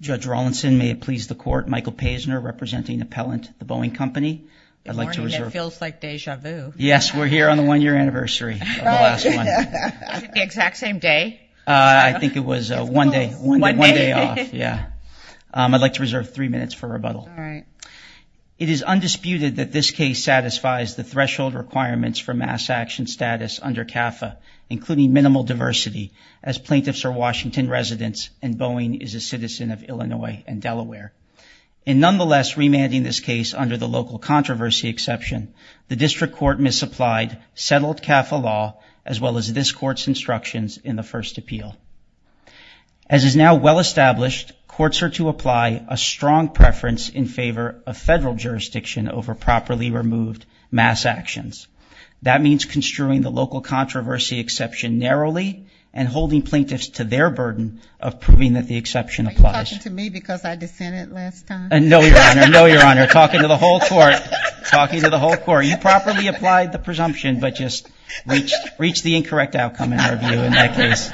Judge Rawlinson, may it please the court, Michael Paisner representing appellant the Boeing Company. I'd like to reserve three minutes for rebuttal. It is undisputed that this case satisfies the threshold requirements for mass action status under CAFA, including minimal diversity as plaintiffs are Washington residents and Boeing is a citizen of Illinois and Delaware. In nonetheless remanding this case under the local controversy exception, the district court misapplied settled CAFA law as well as this court's instructions in the first appeal. As is now well established, courts are to apply a strong preference in favor of federal jurisdiction over properly removed mass actions. That means construing the local controversy exception narrowly and holding plaintiffs to their burden of proving that the exception applies. Are you talking to me because I dissented last time? No, your honor. No, your honor. Talking to the whole court. Talking to the whole court. You properly applied the presumption but just reached the incorrect outcome in our view in that case.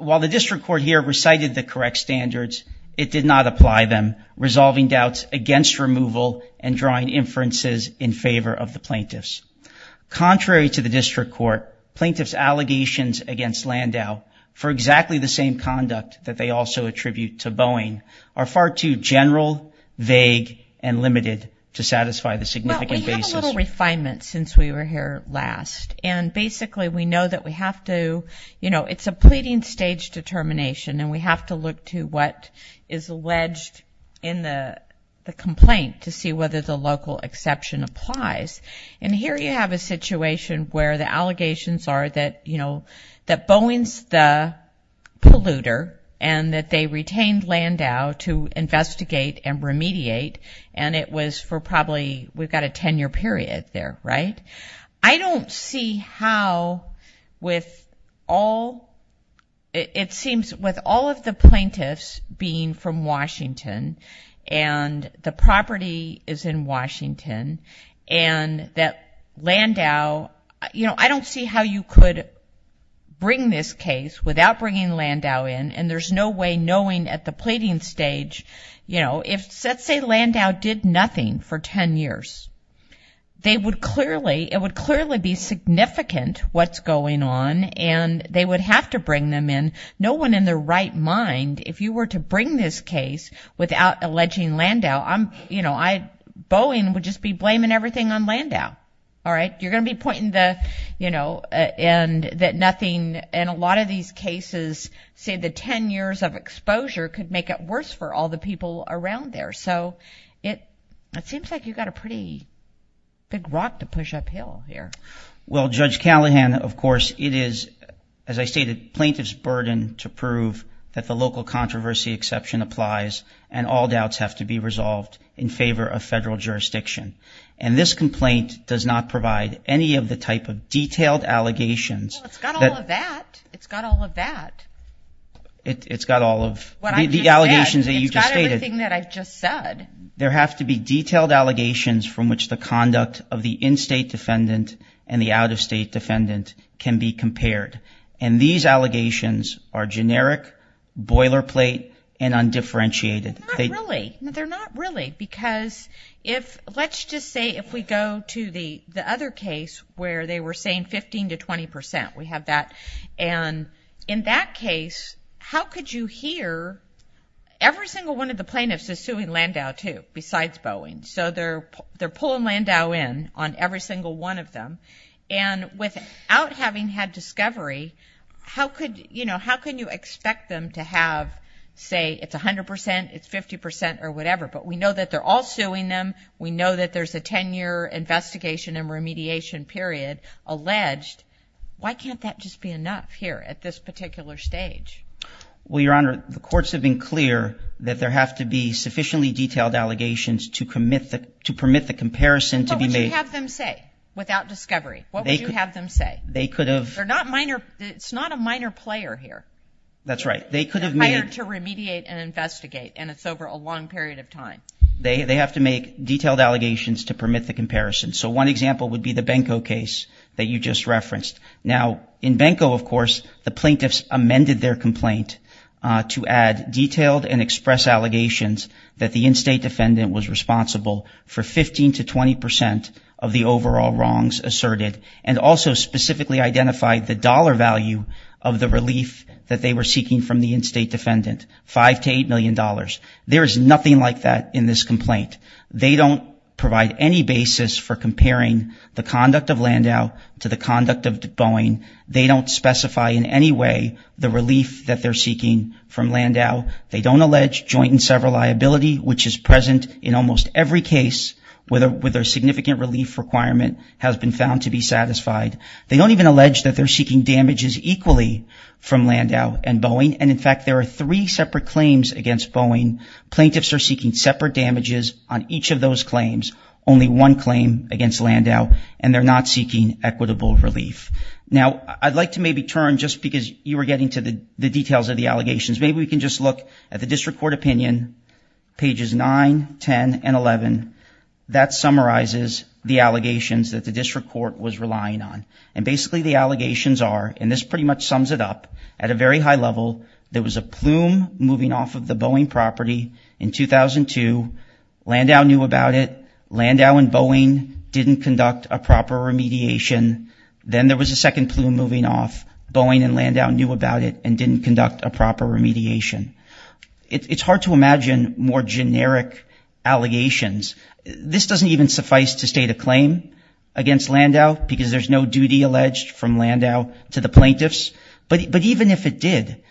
While the district court here recited the correct standards, it did not apply them, resolving doubts against removal and drawing inferences in favor of the plaintiffs. Contrary to the district court, plaintiffs' allegations against Landau for exactly the same conduct that they also attribute to Boeing are far too general, vague, and limited to satisfy the significant basis. Well, we have a little refinement since we were here last and basically we know that we have to, you know, it's a pleading stage determination and we have to look to what is alleged in the complaint to see whether the local exception applies. And here you have a situation where the allegations are that, you know, that Boeing's the polluter and that they retained Landau to investigate and remediate and it was for probably, we've got a 10-year period there, right? I don't see how with all, it seems with all of the plaintiffs being from Washington and the property is in Washington and that Landau, you know, I don't see how you could bring this case without bringing Landau in and there's no way knowing at the pleading stage, you know, if let's say Landau did nothing for 10 years, they would clearly, it would clearly be significant what's going on and they would have to bring them in. No one in their right mind, if you were to bring this case without alleging Landau, I'm, you know, I, Boeing would just be blaming everything on Landau, all right? You're going to be pointing the, you know, and that nothing in a lot of these cases, say the 10 years of exposure could make it worse for all the people around there. So it seems like you've got a pretty big rock to push uphill here. Well, Judge Callahan, of course, it is, as I stated, plaintiff's burden to prove that the local controversy exception applies and all doubts have to be resolved in favor of federal jurisdiction. And this complaint does not provide any of the type of detailed allegations. Well, it's got all of that. It's got all of that. It's got all of the allegations that you just stated. It's got everything that I've just said. There have to be detailed allegations from which the conduct of the in-state defendant and the out-of-state defendant can be compared. And these allegations are generic, boilerplate, and undifferentiated. Not really. No, they're not really because if, let's just say if we go to the other case where they were saying 15 to 20 percent, we have that, and in that case, how could you hear Every single one of the plaintiffs is suing Landau, too, besides Boeing. So they're pulling Landau in on every single one of them. And without having had discovery, how could, you know, how can you expect them to have, say it's 100 percent, it's 50 percent or whatever, but we know that they're all suing them. We know that there's a 10-year investigation and remediation period alleged. Why can't that just be enough here at this particular stage? Well, Your Honor, the courts have been clear that there have to be sufficiently detailed allegations to permit the comparison to be made. And what would you have them say without discovery? What would you have them say? They could have... They're not minor, it's not a minor player here. That's right. They could have made... They're hired to remediate and investigate, and it's over a long period of time. They have to make detailed allegations to permit the comparison. So one example would be the Benko case that you just referenced. Now, in Benko, of course, the plaintiffs amended their complaint to add detailed and express allegations that the in-state defendant was responsible for 15 to 20 percent of the overall wrongs asserted, and also specifically identified the dollar value of the relief that they were seeking from the in-state defendant, $5 to $8 million. There is nothing like that in this complaint. They don't provide any basis for comparing the conduct of Landau to the conduct of Boeing. They don't specify in any way the relief that they're seeking from Landau. They don't allege joint and several liability, which is present in almost every case where their significant relief requirement has been found to be satisfied. They don't even allege that they're seeking damages equally from Landau and Boeing. And in fact, there are three separate claims against Boeing. Plaintiffs are seeking separate damages on each of those claims, only one claim against Landau, and they're not seeking equitable relief. Now, I'd like to maybe turn, just because you were getting to the details of the allegations, maybe we can just look at the district court opinion, pages 9, 10, and 11. That summarizes the allegations that the district court was relying on. And basically, the allegations are, and this pretty much sums it up, at a very high level, there was a plume moving off of the Boeing property in 2002. Landau knew about it. Landau and Boeing didn't conduct a proper remediation. Then there was a second plume moving off. Boeing and Landau knew about it and didn't conduct a proper remediation. It's hard to imagine more generic allegations. This doesn't even suffice to state a claim against Landau, because there's no duty alleged from Landau to the plaintiffs. But even if it did,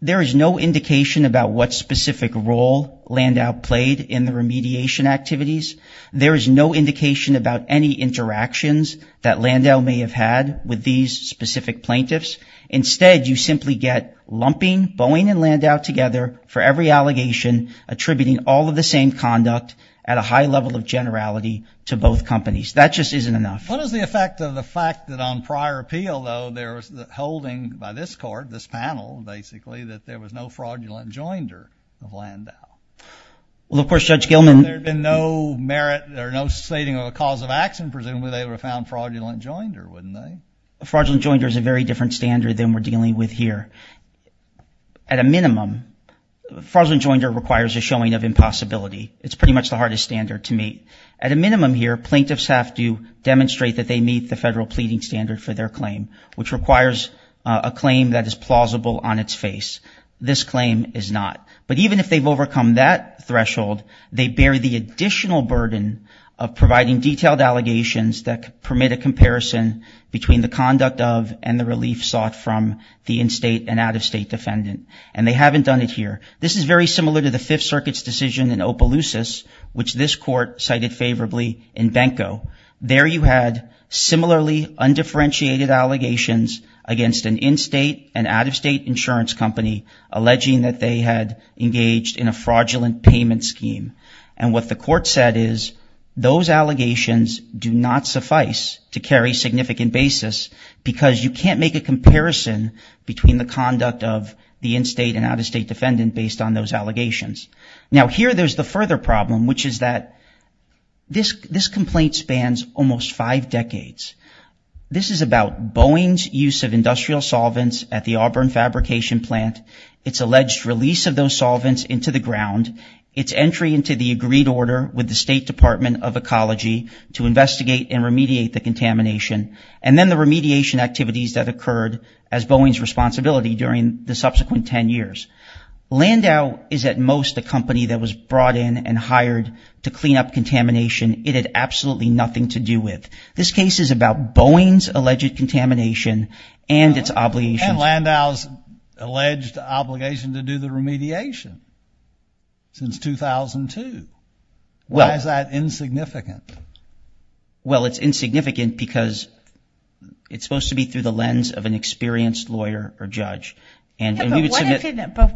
there is no indication about what specific role Landau played in the remediation activities. There is no indication about any interactions that Landau may have had with these specific plaintiffs. Instead, you simply get lumping Boeing and Landau together for every allegation, attributing all of the same conduct at a high level of generality to both companies. That just isn't enough. What is the effect of the fact that on prior appeal, though, there was the holding by this court, this panel, basically, that there was no fraudulent joinder of Landau? Well, of course, Judge Gilman- There had been no merit or no stating of a cause of action. Presumably, they would have found fraudulent joinder, wouldn't they? Fraudulent joinder is a very different standard than we're dealing with here. At a minimum, fraudulent joinder requires a showing of impossibility. It's pretty much the hardest standard to meet. At a minimum here, plaintiffs have to demonstrate that they meet the federal pleading standard for their claim, which requires a claim that is plausible on its face. This claim is not. But even if they've overcome that threshold, they bear the additional burden of providing detailed allegations that permit a comparison between the conduct of and the relief sought from the in-state and out-of-state defendant. And they haven't done it here. This is very similar to the Fifth Circuit's decision in Opelousas, which this court cited favorably in Benko. There you had similarly undifferentiated allegations against an in-state and out-of-state insurance company alleging that they had engaged in a fraudulent payment scheme. And what the court said is those allegations do not suffice to carry significant basis because you can't make a comparison between the conduct of the in-state and out-of-state defendant based on those allegations. Now, here there's the further problem, which is that this complaint spans almost five decades. This is about Boeing's use of industrial solvents at the Auburn Fabrication Plant, its alleged release of those solvents into the ground, its entry into the agreed order with the State Department of Ecology to investigate and remediate the contamination, and then the remediation activities that occurred as Boeing's responsibility during the subsequent 10 years. Landau is at most a company that was brought in and hired to clean up contamination. It had absolutely nothing to do with. This case is about Boeing's alleged contamination and its obligations. And Landau's alleged obligation to do the remediation since 2002. Why is that insignificant? Well, it's insignificant because it's supposed to be through the lens of an experienced lawyer or judge. But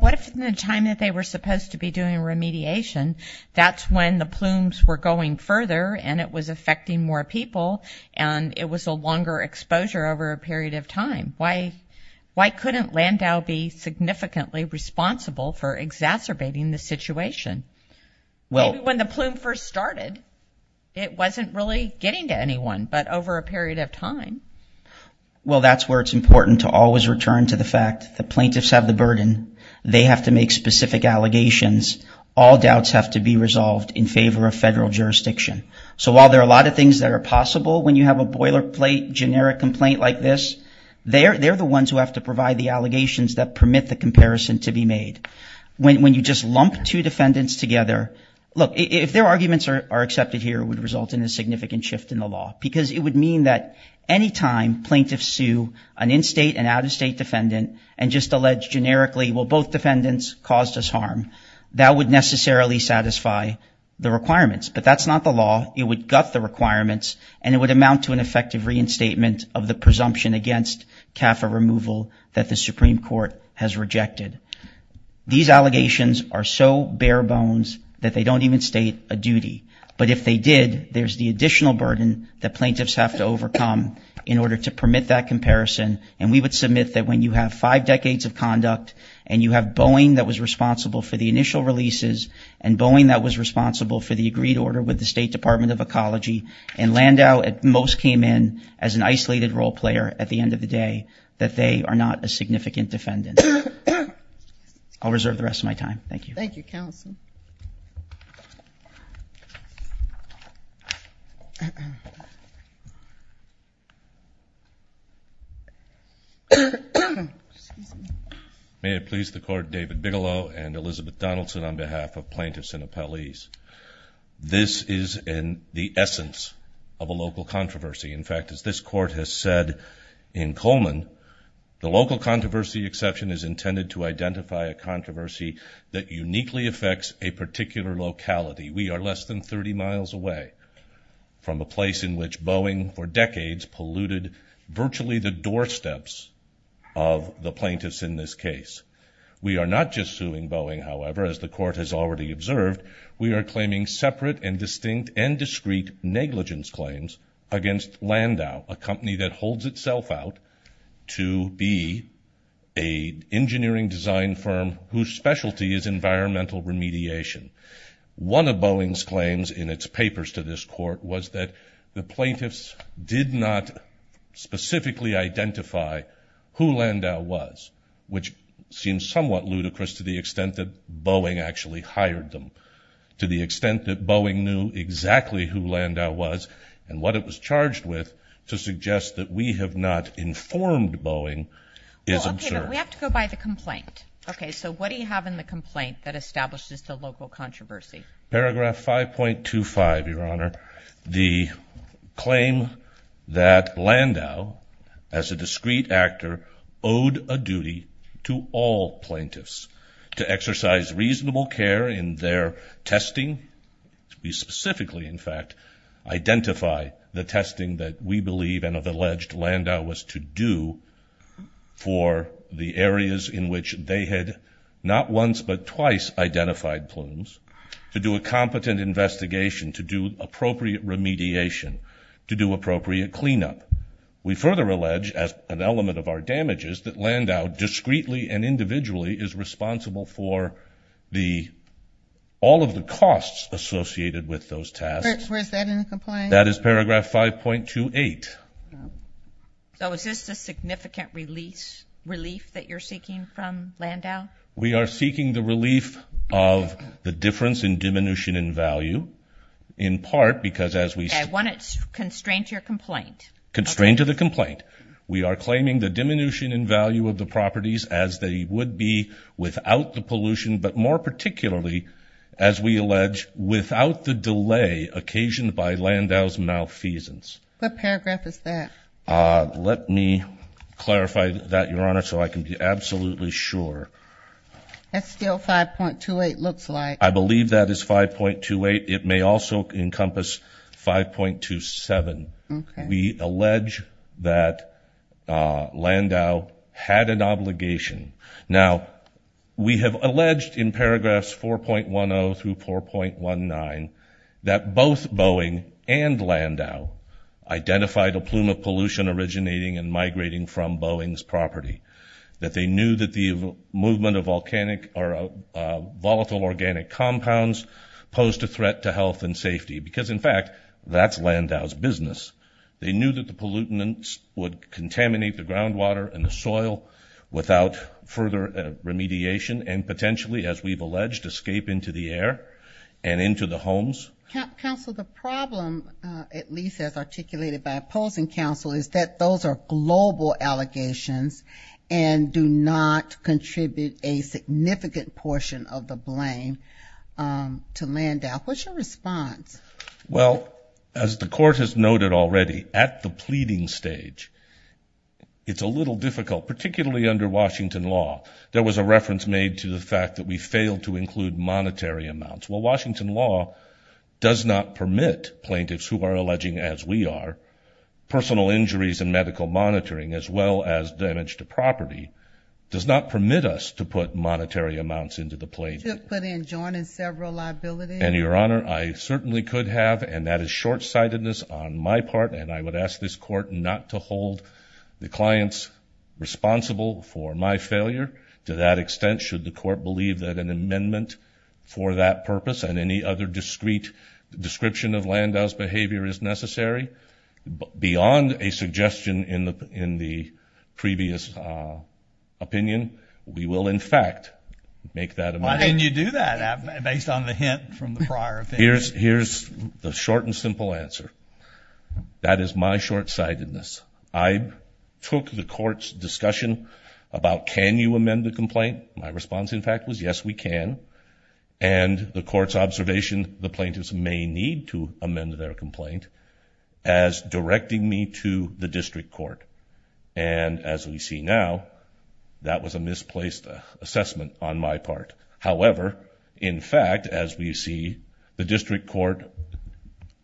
what if in the time that they were supposed to be doing remediation, that's when the plumes were going further and it was affecting more people and it was a longer exposure over a period of time? Why couldn't Landau be significantly responsible for exacerbating the situation? Maybe when the plume first started, it wasn't really getting to anyone, but over a period of time. Well, that's where it's important to always return to the fact that plaintiffs have the burden. They have to make specific allegations. All doubts have to be resolved in favor of federal jurisdiction. So while there are a lot of things that are possible when you have a boilerplate generic complaint like this, they're the ones who have to provide the allegations that permit the comparison to be made. When you just lump two defendants together, look, if their arguments are accepted here, it would result in a significant shift in the law. Because it would mean that any time plaintiffs sue an in-state and out-of-state defendant and just allege generically, well, both defendants caused us harm, that would necessarily satisfy the requirements. But that's not the law. It would gut the requirements and it would amount to an effective reinstatement of the presumption against CAFA removal that the Supreme Court has rejected. These allegations are so bare bones that they don't even state a duty. But if they did, there's the additional burden that plaintiffs have to overcome in order to permit that comparison. And we would submit that when you have five decades of conduct and you have Boeing that was responsible for the initial releases and Boeing that was responsible for the agreed order with the State Department of Ecology and Landau at most came in as an isolated role player at the end of the day, that they are not a significant defendant. I'll reserve the rest of my time. Thank you. Thank you, counsel. May it please the court, David Bigelow and Elizabeth Donaldson on behalf of plaintiffs and appellees. This is in the essence of a local controversy. In fact, as this court has said in Coleman, the local controversy exception is intended to identify a controversy that uniquely affects a particular locality. We are less than 30 miles away from a place in which Boeing for decades polluted virtually the doorsteps of the plaintiffs in this case. We are not just suing Boeing, however, as the court has already observed. We are claiming separate and distinct and discrete negligence claims against Landau, a company that holds itself out to be a engineering design firm whose specialty is environmental remediation. One of Boeing's claims in its papers to this court was that the plaintiffs did not specifically identify who Landau was, which seems somewhat ludicrous to the extent that Boeing actually hired them, to the extent that Boeing knew exactly who Landau was and what it was charged with to suggest that we have not informed Boeing is absurd. We have to go by the complaint. Okay, so what do you have in the complaint that establishes the local controversy? Paragraph 5.25, Your Honor. The claim that Landau, as a discrete actor, owed a duty to all plaintiffs to exercise reasonable care in their testing, to be specifically, in fact, identify the testing that we believe and have alleged Landau was to do for the areas in which they had not once but twice identified plumes, to do a competent investigation, to do appropriate remediation, to do appropriate cleanup. We further allege, as an element of our damages, that Landau discreetly and individually is responsible for all of the costs associated with those tasks. Where is that in the complaint? That is paragraph 5.28. So is this a significant relief that you're seeking from Landau? We are seeking the relief of the difference in diminution in value, in part because as we... Okay, I want to constrain to your complaint. Constrain to the complaint. We are claiming the diminution in value of the properties as they would be without the pollution, but more particularly, as we allege, without the delay occasioned by Landau's malfeasance. What paragraph is that? Let me clarify that, Your Honor, so I can be absolutely sure. That's still 5.28, looks like. I believe that is 5.28. It may also encompass 5.27. We allege that Landau had an obligation. Now, we have alleged in paragraphs 4.10 through 4.19 that both Boeing and Landau identified a plume of pollution originating and migrating from Boeing's property, that they knew that the movement of volcanic or volatile organic compounds posed a threat to health and safety because, in fact, that's Landau's business. They knew that the pollutants would contaminate the groundwater and the soil without further remediation and potentially, as we've alleged, escape into the air and into the homes. Counsel, the problem, at least as articulated by opposing counsel, is that those are global allegations and do not contribute a significant portion of the blame to Landau. What's your response? Well, as the court has noted already, at the pleading stage, it's a little difficult, particularly under Washington law. There was a reference made to the fact that we failed to include monetary amounts. Well, Washington law does not permit plaintiffs who are alleging, as we are, personal injuries and medical monitoring, as well as damage to property, does not permit us to put monetary amounts into the plaintiff. You could put in joining several liabilities. And, Your Honor, I certainly could have, and that is shortsightedness on my part, and I would ask this court not to hold the clients responsible for my failure to that extent, should the court believe that an amendment for that purpose and any other discrete description of Landau's behavior is necessary. Beyond a suggestion in the previous opinion, we will, in fact, make that amendment. Why didn't you do that based on the hint from the prior opinion? Here's the short and simple answer. That is my shortsightedness. I took the court's discussion about, can you amend the complaint? My response, in fact, was, yes, we can. And the court's observation, the plaintiffs may need to amend their complaint, as directing me to the district court. And as we see now, that was a misplaced assessment on my part. However, in fact, as we see, the district court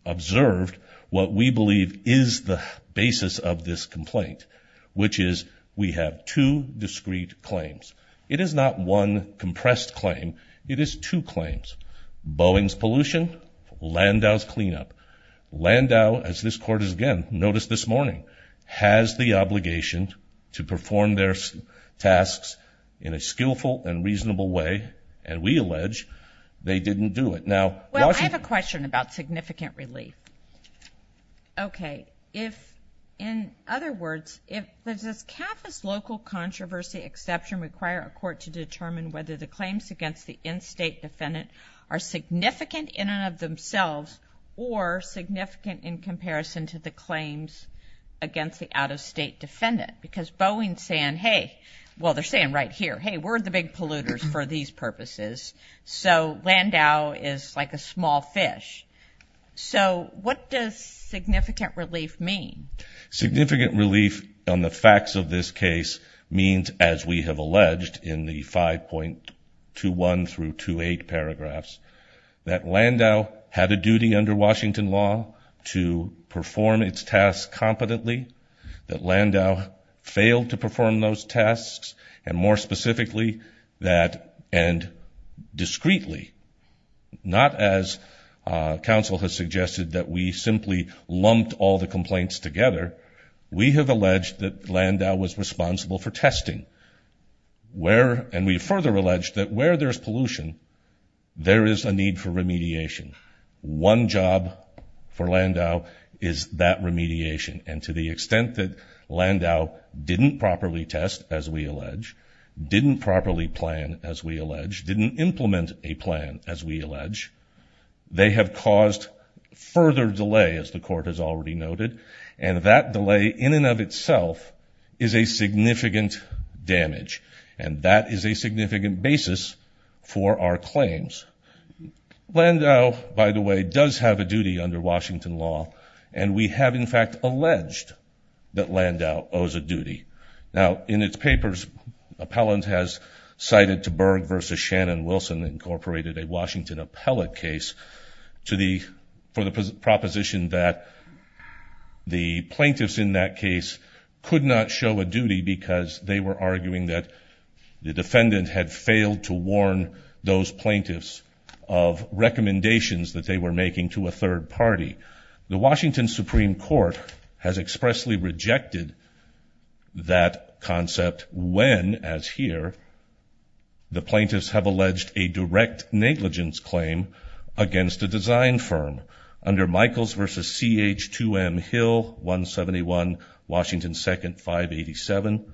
observed what we believe is the basis of this complaint, which is we have two discrete claims. It is not one compressed claim. It is two claims, Boeing's pollution, Landau's cleanup. Landau, as this court has again noticed this morning, has the obligation to perform their tasks in a skillful and reasonable way. And we allege they didn't do it. Now, Washington- Well, I have a question about significant relief. Okay. If, in other words, if, does CAFA's local controversy exception require a court to determine whether the claims against the in-state defendant are significant in and of themselves or significant in comparison to the claims against the out-of-state defendant? Because Boeing's saying, hey, well, they're saying right here, hey, we're the big polluters for these purposes. So Landau is like a small fish. So what does significant relief mean? Significant relief on the facts of this case means, as we have alleged in the 5.21 through 2.8 paragraphs, that Landau had a duty under Washington law to perform its tasks competently, that Landau failed to perform those tasks, and more specifically, that, and discreetly, not as counsel has suggested that we simply lumped all the complaints together, we have alleged that Landau was responsible for testing, where, and we further allege that where there's pollution, there is a need for remediation. One job for Landau is that remediation. And to the extent that Landau didn't properly test, as we allege, didn't properly plan, as we allege, didn't implement a plan, as we allege, they have caused further delay, as the court has already noted. And that delay in and of itself is a significant damage. And that is a significant basis for our claims. Landau, by the way, does have a duty under Washington law. And we have, in fact, alleged that Landau owes a duty. Now, in its papers, Appellant has cited to Berg v. Shannon-Wilson, Inc., a Washington appellate case to the, for the proposition that the plaintiffs in that case could not show a duty because they were arguing that the defendant had failed to warn those plaintiffs of recommendations that they were making to a third party. The Washington Supreme Court has expressly rejected that concept when, as here, the plaintiffs have alleged a direct negligence claim against a design firm. Under Michaels v. C.H.2M Hill 171, Washington 2nd 587,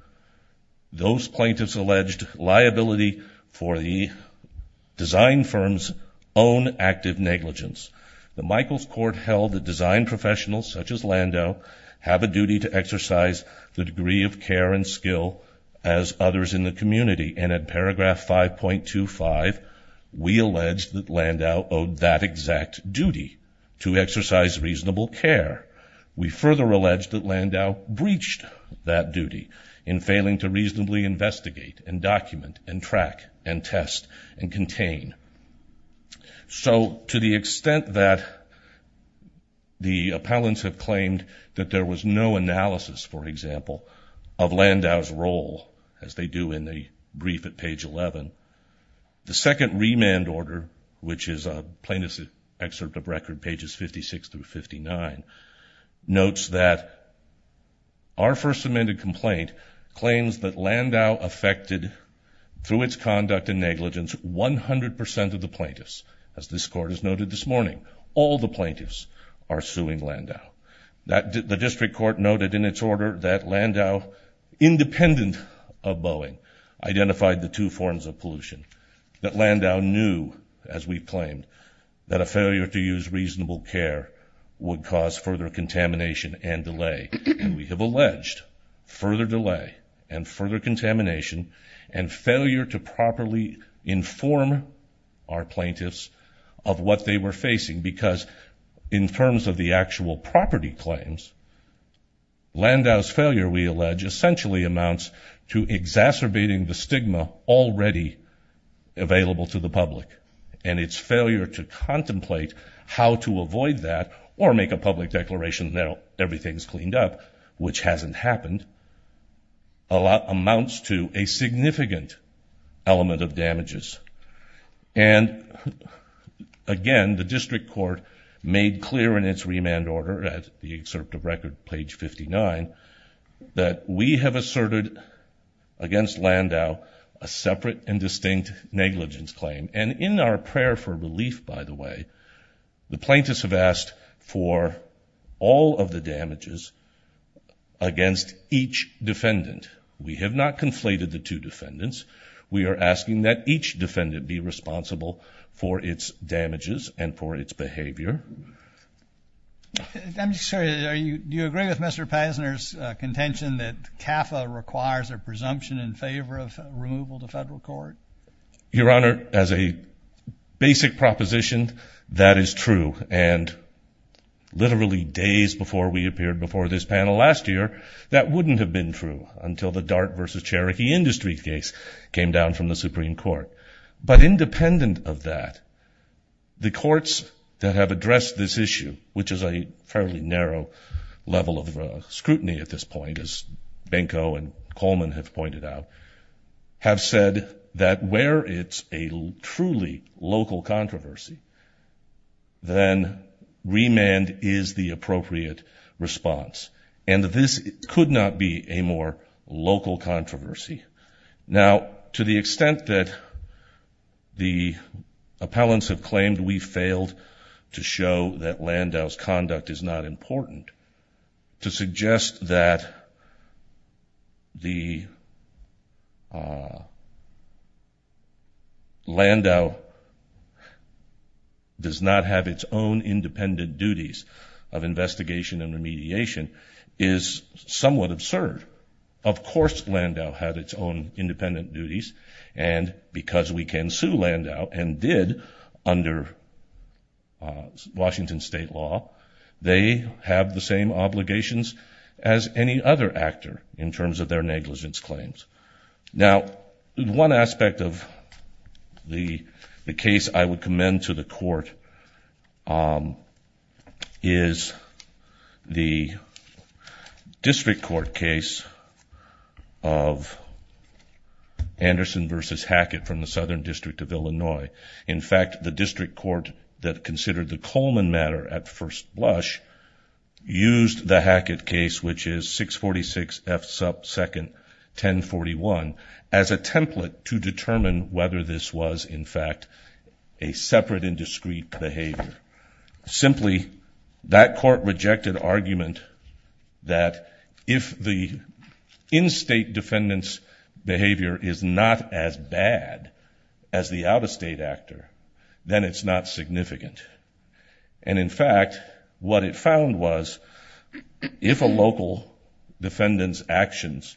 those plaintiffs alleged liability for the design firm's own active negligence. The Michaels court held that design professionals, such as Landau, have a duty to exercise the degree of care and skill as others in the community. And at paragraph 5.25, we allege that Landau owed that exact duty to exercise reasonable care. We further allege that Landau breached that duty and track and test and contain. So, to the extent that the appellants have claimed that there was no analysis, for example, of Landau's role, as they do in the brief at page 11, the second remand order, which is a plaintiff's excerpt of record, pages 56 through 59, notes that our first amended complaint claims that Landau affected, through its conduct and negligence, 100% of the plaintiffs. As this court has noted this morning, all the plaintiffs are suing Landau. The district court noted in its order that Landau, independent of Boeing, identified the two forms of pollution. That Landau knew, as we've claimed, that a failure to use reasonable care would cause further contamination and delay. We have alleged further delay and further contamination and failure to properly inform our plaintiffs of what they were facing, because in terms of the actual property claims, Landau's failure, we allege, essentially amounts to exacerbating the stigma already available to the public. And its failure to contemplate how to avoid that or make a public declaration that everything's cleaned up, which hasn't happened, a lot amounts to a significant element of damages. And again, the district court made clear in its remand order at the excerpt of record, page 59, that we have asserted against Landau a separate and distinct negligence claim. And in our prayer for relief, by the way, the plaintiffs have asked for all of the damages against each defendant. We have not conflated the two defendants. We are asking that each defendant be responsible for its damages and for its behavior. I'm sorry, do you agree with Mr. Pasner's contention that CAFA requires a presumption in favor of removal to federal court? Your Honor, as a basic proposition, that is true. And literally days before we appeared, before this panel last year, that wouldn't have been true until the Dart versus Cherokee Industry case came down from the Supreme Court. But independent of that, the courts that have addressed this issue, which is a fairly narrow level of scrutiny at this point, as Benko and Coleman have pointed out, have said that where it's a truly local controversy, then remand is the appropriate response. And this could not be a more local controversy. Now, to the extent that the appellants have claimed we failed to show that Landau's conduct is not important, to suggest that the... ...Landau does not have its own independent duties of investigation and remediation is somewhat absurd. Of course Landau had its own independent duties. And because we can sue Landau, and did under Washington state law, they have the same obligations as any other actor in terms of their negligence claims. Now, one aspect of the case I would commend to the court is the district court case of Anderson versus Hackett from the Southern District of Illinois. In fact, the district court that considered the Coleman matter at first blush used the Hackett case, which is 646 F sub second 1041, as a template to determine whether this was, in fact, a separate and discreet behavior. Simply, that court rejected argument that if the in-state defendant's behavior is not as bad as the out-of-state actor, then it's not significant. And in fact, what it found was, if a local defendant's actions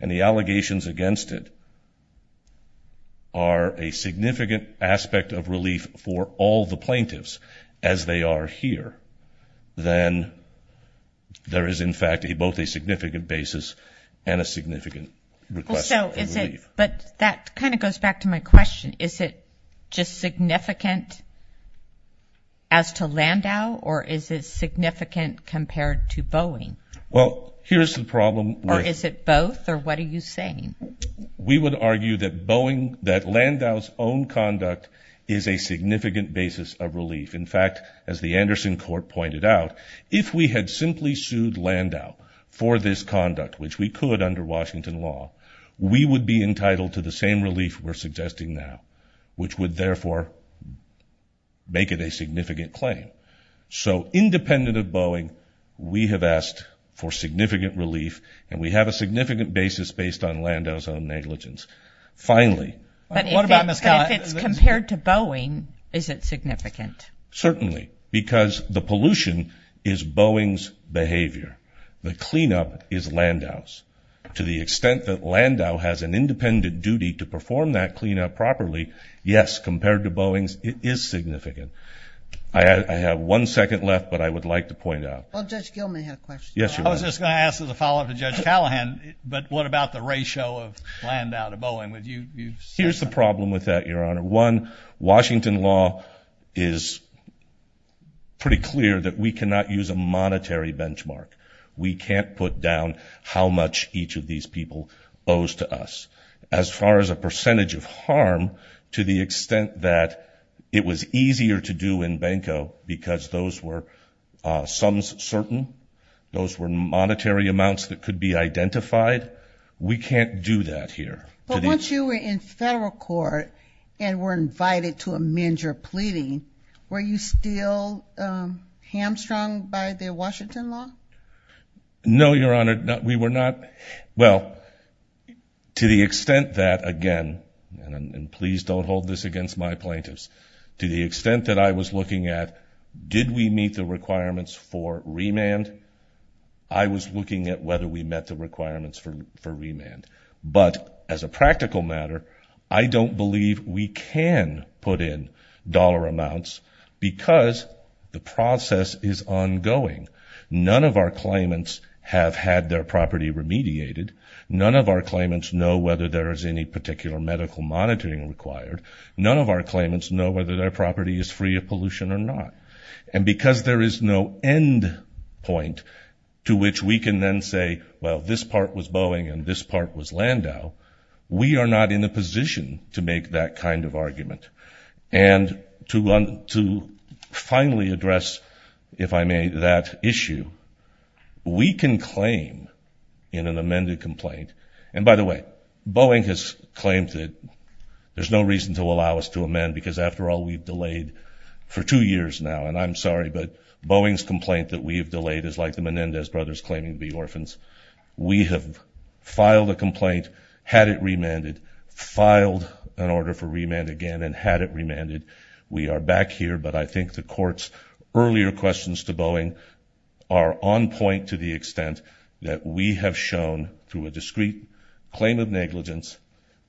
and the allegations against it are a significant aspect of relief for all the plaintiffs as they are here, then there is, in fact, both a significant basis and a significant request for relief. But that kind of goes back to my question. Is it just significant as to Landau? Or is it significant compared to Boeing? Well, here's the problem. Or is it both? Or what are you saying? We would argue that Boeing, that Landau's own conduct is a significant basis of relief. In fact, as the Anderson court pointed out, if we had simply sued Landau for this conduct, which we could under Washington law, we would be entitled to the same relief we're suggesting now, which would therefore make it a significant claim. So independent of Boeing, we have asked for significant relief and we have a significant basis based on Landau's own negligence. Finally... But if it's compared to Boeing, is it significant? Certainly, because the pollution is Boeing's behavior. The cleanup is Landau's. To the extent that Landau has an independent duty to perform that cleanup properly, yes, compared to Boeing's, it is significant. I have one second left, but I would like to point out... Well, Judge Gilman had a question. Yes, you do. I was just going to ask as a follow-up to Judge Callahan, but what about the ratio of Landau to Boeing? Here's the problem with that, Your Honor. One, Washington law is pretty clear that we cannot use a monetary benchmark. We can't put down how much each of these people owes to us. As far as a percentage of harm, to the extent that it was easier to do in Banco because those were sums certain, those were monetary amounts that could be identified, we can't do that here. But once you were in federal court and were invited to amend your pleading, were you still hamstrung by the Washington law? No, Your Honor. We were not... Well, to the extent that, again, and please don't hold this against my plaintiffs, to the extent that I was looking at, did we meet the requirements for remand? I was looking at whether we met the requirements for remand. But as a practical matter, I don't believe we can put in dollar amounts because the process is ongoing. None of our claimants have had their property remediated. None of our claimants know whether there is any particular medical monitoring required. None of our claimants know whether their property is free of pollution or not. And because there is no end point to which we can then say, well, this part was Boeing and this part was Landau, we are not in a position to make that kind of argument. And to finally address, if I may, that issue, we can claim in an amended complaint. And by the way, Boeing has claimed that there's no reason to allow us to amend because after all, we've delayed for two years now. And I'm sorry, but Boeing's complaint that we have delayed is like the Menendez brothers claiming to be orphans. We have filed a complaint, had it remanded, filed an order for remand again and had it remanded. We are back here, but I think the court's earlier questions to Boeing are on point to the extent that we have shown through a discrete claim of negligence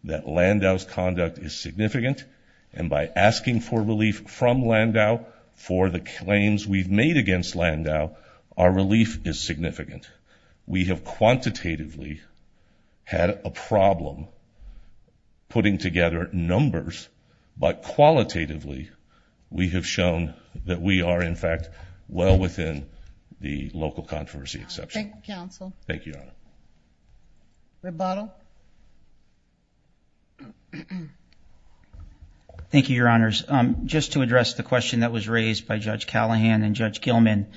that Landau's conduct is significant. And by asking for relief from Landau for the claims we've made against Landau, our relief is significant. We have quantitatively had a problem putting together numbers, but qualitatively, we have shown that we are, in fact, well within the local controversy exception. Thank you, counsel. Thank you, Your Honor. Rebuttal. Thank you, Your Honors. Just to address the question that was raised by Judge Callahan and Judge Gilman,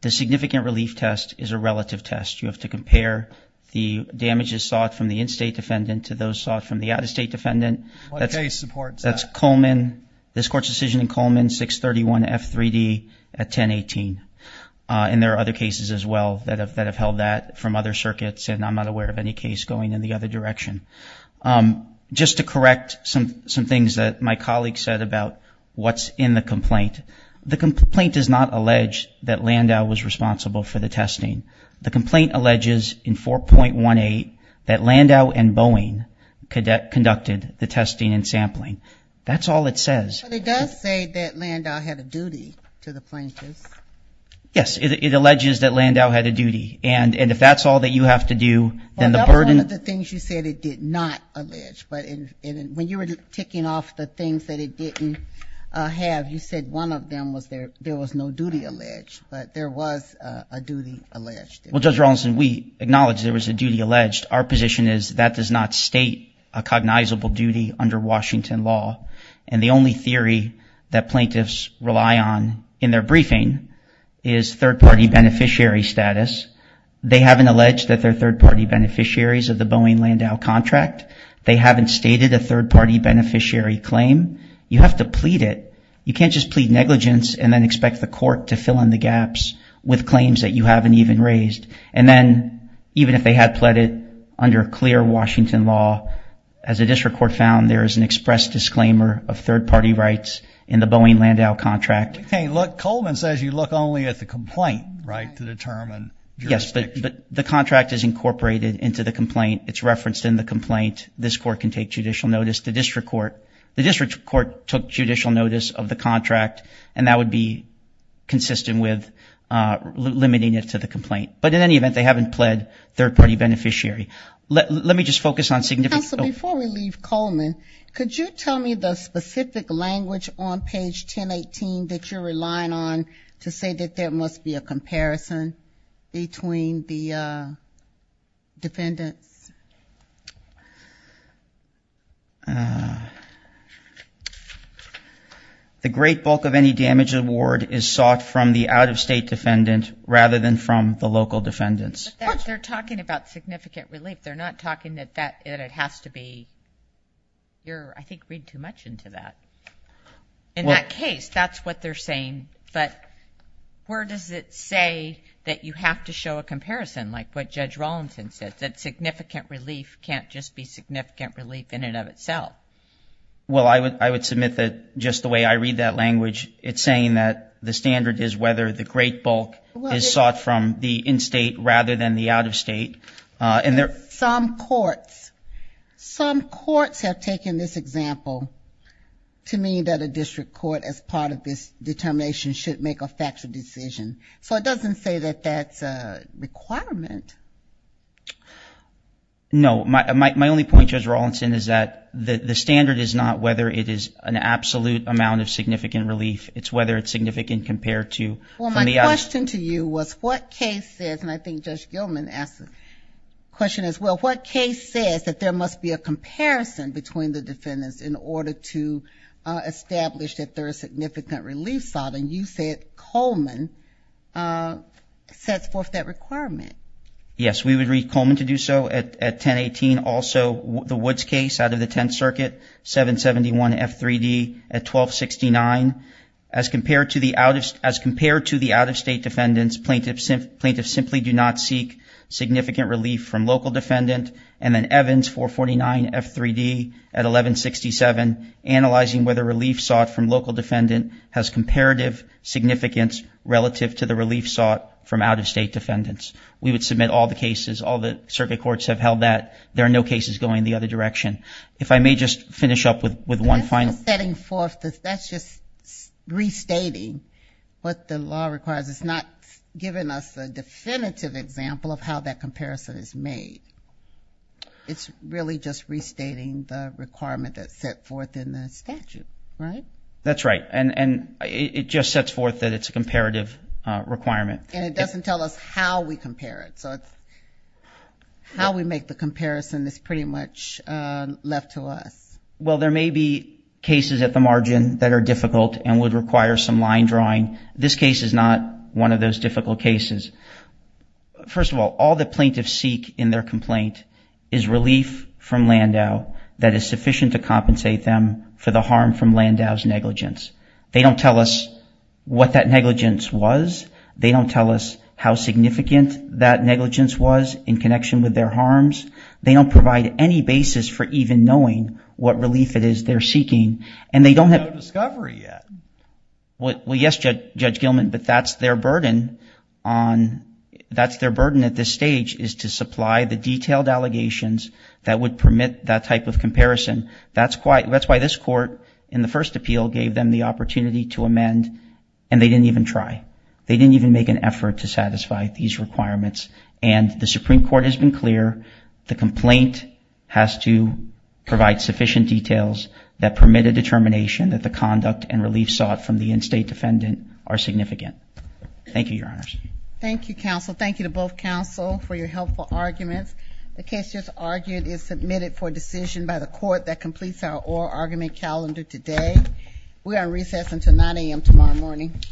the significant relief test is a relative test. You have to compare the damages sought from the in-state defendant to those sought from the out-of-state defendant. What case supports that? That's Coleman. This court's decision in Coleman, 631 F3D at 1018. And there are other cases as well that have held that from other circuits, and I'm not aware of any case going in the other direction. Just to correct some things that my colleague said about what's in the complaint. The complaint does not allege that Landau was responsible for the testing. The complaint alleges in 4.18 that Landau and Boeing conducted the testing and sampling. That's all it says. But it does say that Landau had a duty to the plaintiffs. Yes, it alleges that Landau had a duty. And if that's all that you have to do, then the burden... One of the things you said it did not allege, but when you were ticking off the things that it didn't have, you said one of them was there was no duty alleged, but there was a duty alleged. Well, Judge Rawlinson, we acknowledge there was a duty alleged. Our position is that does not state a cognizable duty under Washington law. And the only theory that plaintiffs rely on in their briefing is third-party beneficiary status. They haven't alleged that they're third-party beneficiaries of the Boeing-Landau contract. They haven't stated a third-party beneficiary claim. You have to plead it. You can't just plead negligence and then expect the court to fill in the gaps with claims that you haven't even raised. And then even if they had plead it under clear Washington law, as the district court found, there is an express disclaimer of third-party rights in the Boeing-Landau contract. Hey, look, Coleman says you look only at the complaint, right, to determine jurisdiction. Yes, but the contract is incorporated into the complaint. It's referenced in the complaint. This court can take judicial notice. The district court took judicial notice of the contract and that would be consistent with limiting it to the complaint. In any event, they haven't pled third-party beneficiary. Let me just focus on significant... Counselor, before we leave Coleman, could you tell me the specific language on page 1018 that you're relying on to say that there must be a comparison between the defendants? The great bulk of any damage award is sought from the out-of-state defendant rather than from the local defendants. They're talking about significant relief. They're not talking that it has to be... You're, I think, reading too much into that. In that case, that's what they're saying. But where does it say that you have to show a comparison like what Judge Rawlinson said, that significant relief can't just be significant relief in and of itself? Well, I would submit that just the way I read that language, it's saying that the standard is whether the great bulk... Is sought from the in-state rather than the out-of-state. And there... Some courts have taken this example to mean that a district court, as part of this determination, should make a factual decision. So it doesn't say that that's a requirement. No, my only point, Judge Rawlinson, is that the standard is not whether it is an absolute amount of significant relief. It's whether it's significant compared to... Well, my question to you was what case says, and I think Judge Gilman asked the question as well, what case says that there must be a comparison between the defendants in order to establish that there is significant relief sought? And you said Coleman sets forth that requirement. Yes, we would read Coleman to do so at 1018. Also, the Woods case out of the 10th Circuit, 771 F3D at 1269. As compared to the out-of-state defendants, plaintiffs simply do not seek significant relief from local defendant. And then Evans, 449 F3D at 1167, analyzing whether relief sought from local defendant has comparative significance relative to the relief sought from out-of-state defendants. We would submit all the cases, all the circuit courts have held that. There are no cases going the other direction. If I may just finish up with one final... Setting forth, that's just restating what the law requires. It's not giving us a definitive example of how that comparison is made. It's really just restating the requirement that's set forth in the statute, right? That's right. And it just sets forth that it's a comparative requirement. And it doesn't tell us how we compare it. So it's how we make the comparison is pretty much left to us. Well, there may be cases at the margin that are difficult and would require some line drawing. This case is not one of those difficult cases. First of all, all the plaintiffs seek in their complaint is relief from Landau that is sufficient to compensate them for the harm from Landau's negligence. They don't tell us what that negligence was. They don't tell us how significant that negligence was in connection with their harms. They don't provide any basis for even knowing what relief it is they're seeking. And they don't have a discovery yet. Well, yes, Judge Gilman, but that's their burden at this stage is to supply the detailed allegations that would permit that type of comparison. That's why this court in the first appeal gave them the opportunity to amend and they didn't even try. They didn't even make an effort to satisfy these requirements. And the Supreme Court has been clear. The complaint has to provide sufficient details that permit a determination that the conduct and relief sought from the in-state defendant are significant. Thank you, Your Honors. Thank you, counsel. Thank you to both counsel for your helpful arguments. The case just argued is submitted for decision by the court that completes our oral argument calendar today. We are on recess until 9 a.m. tomorrow morning.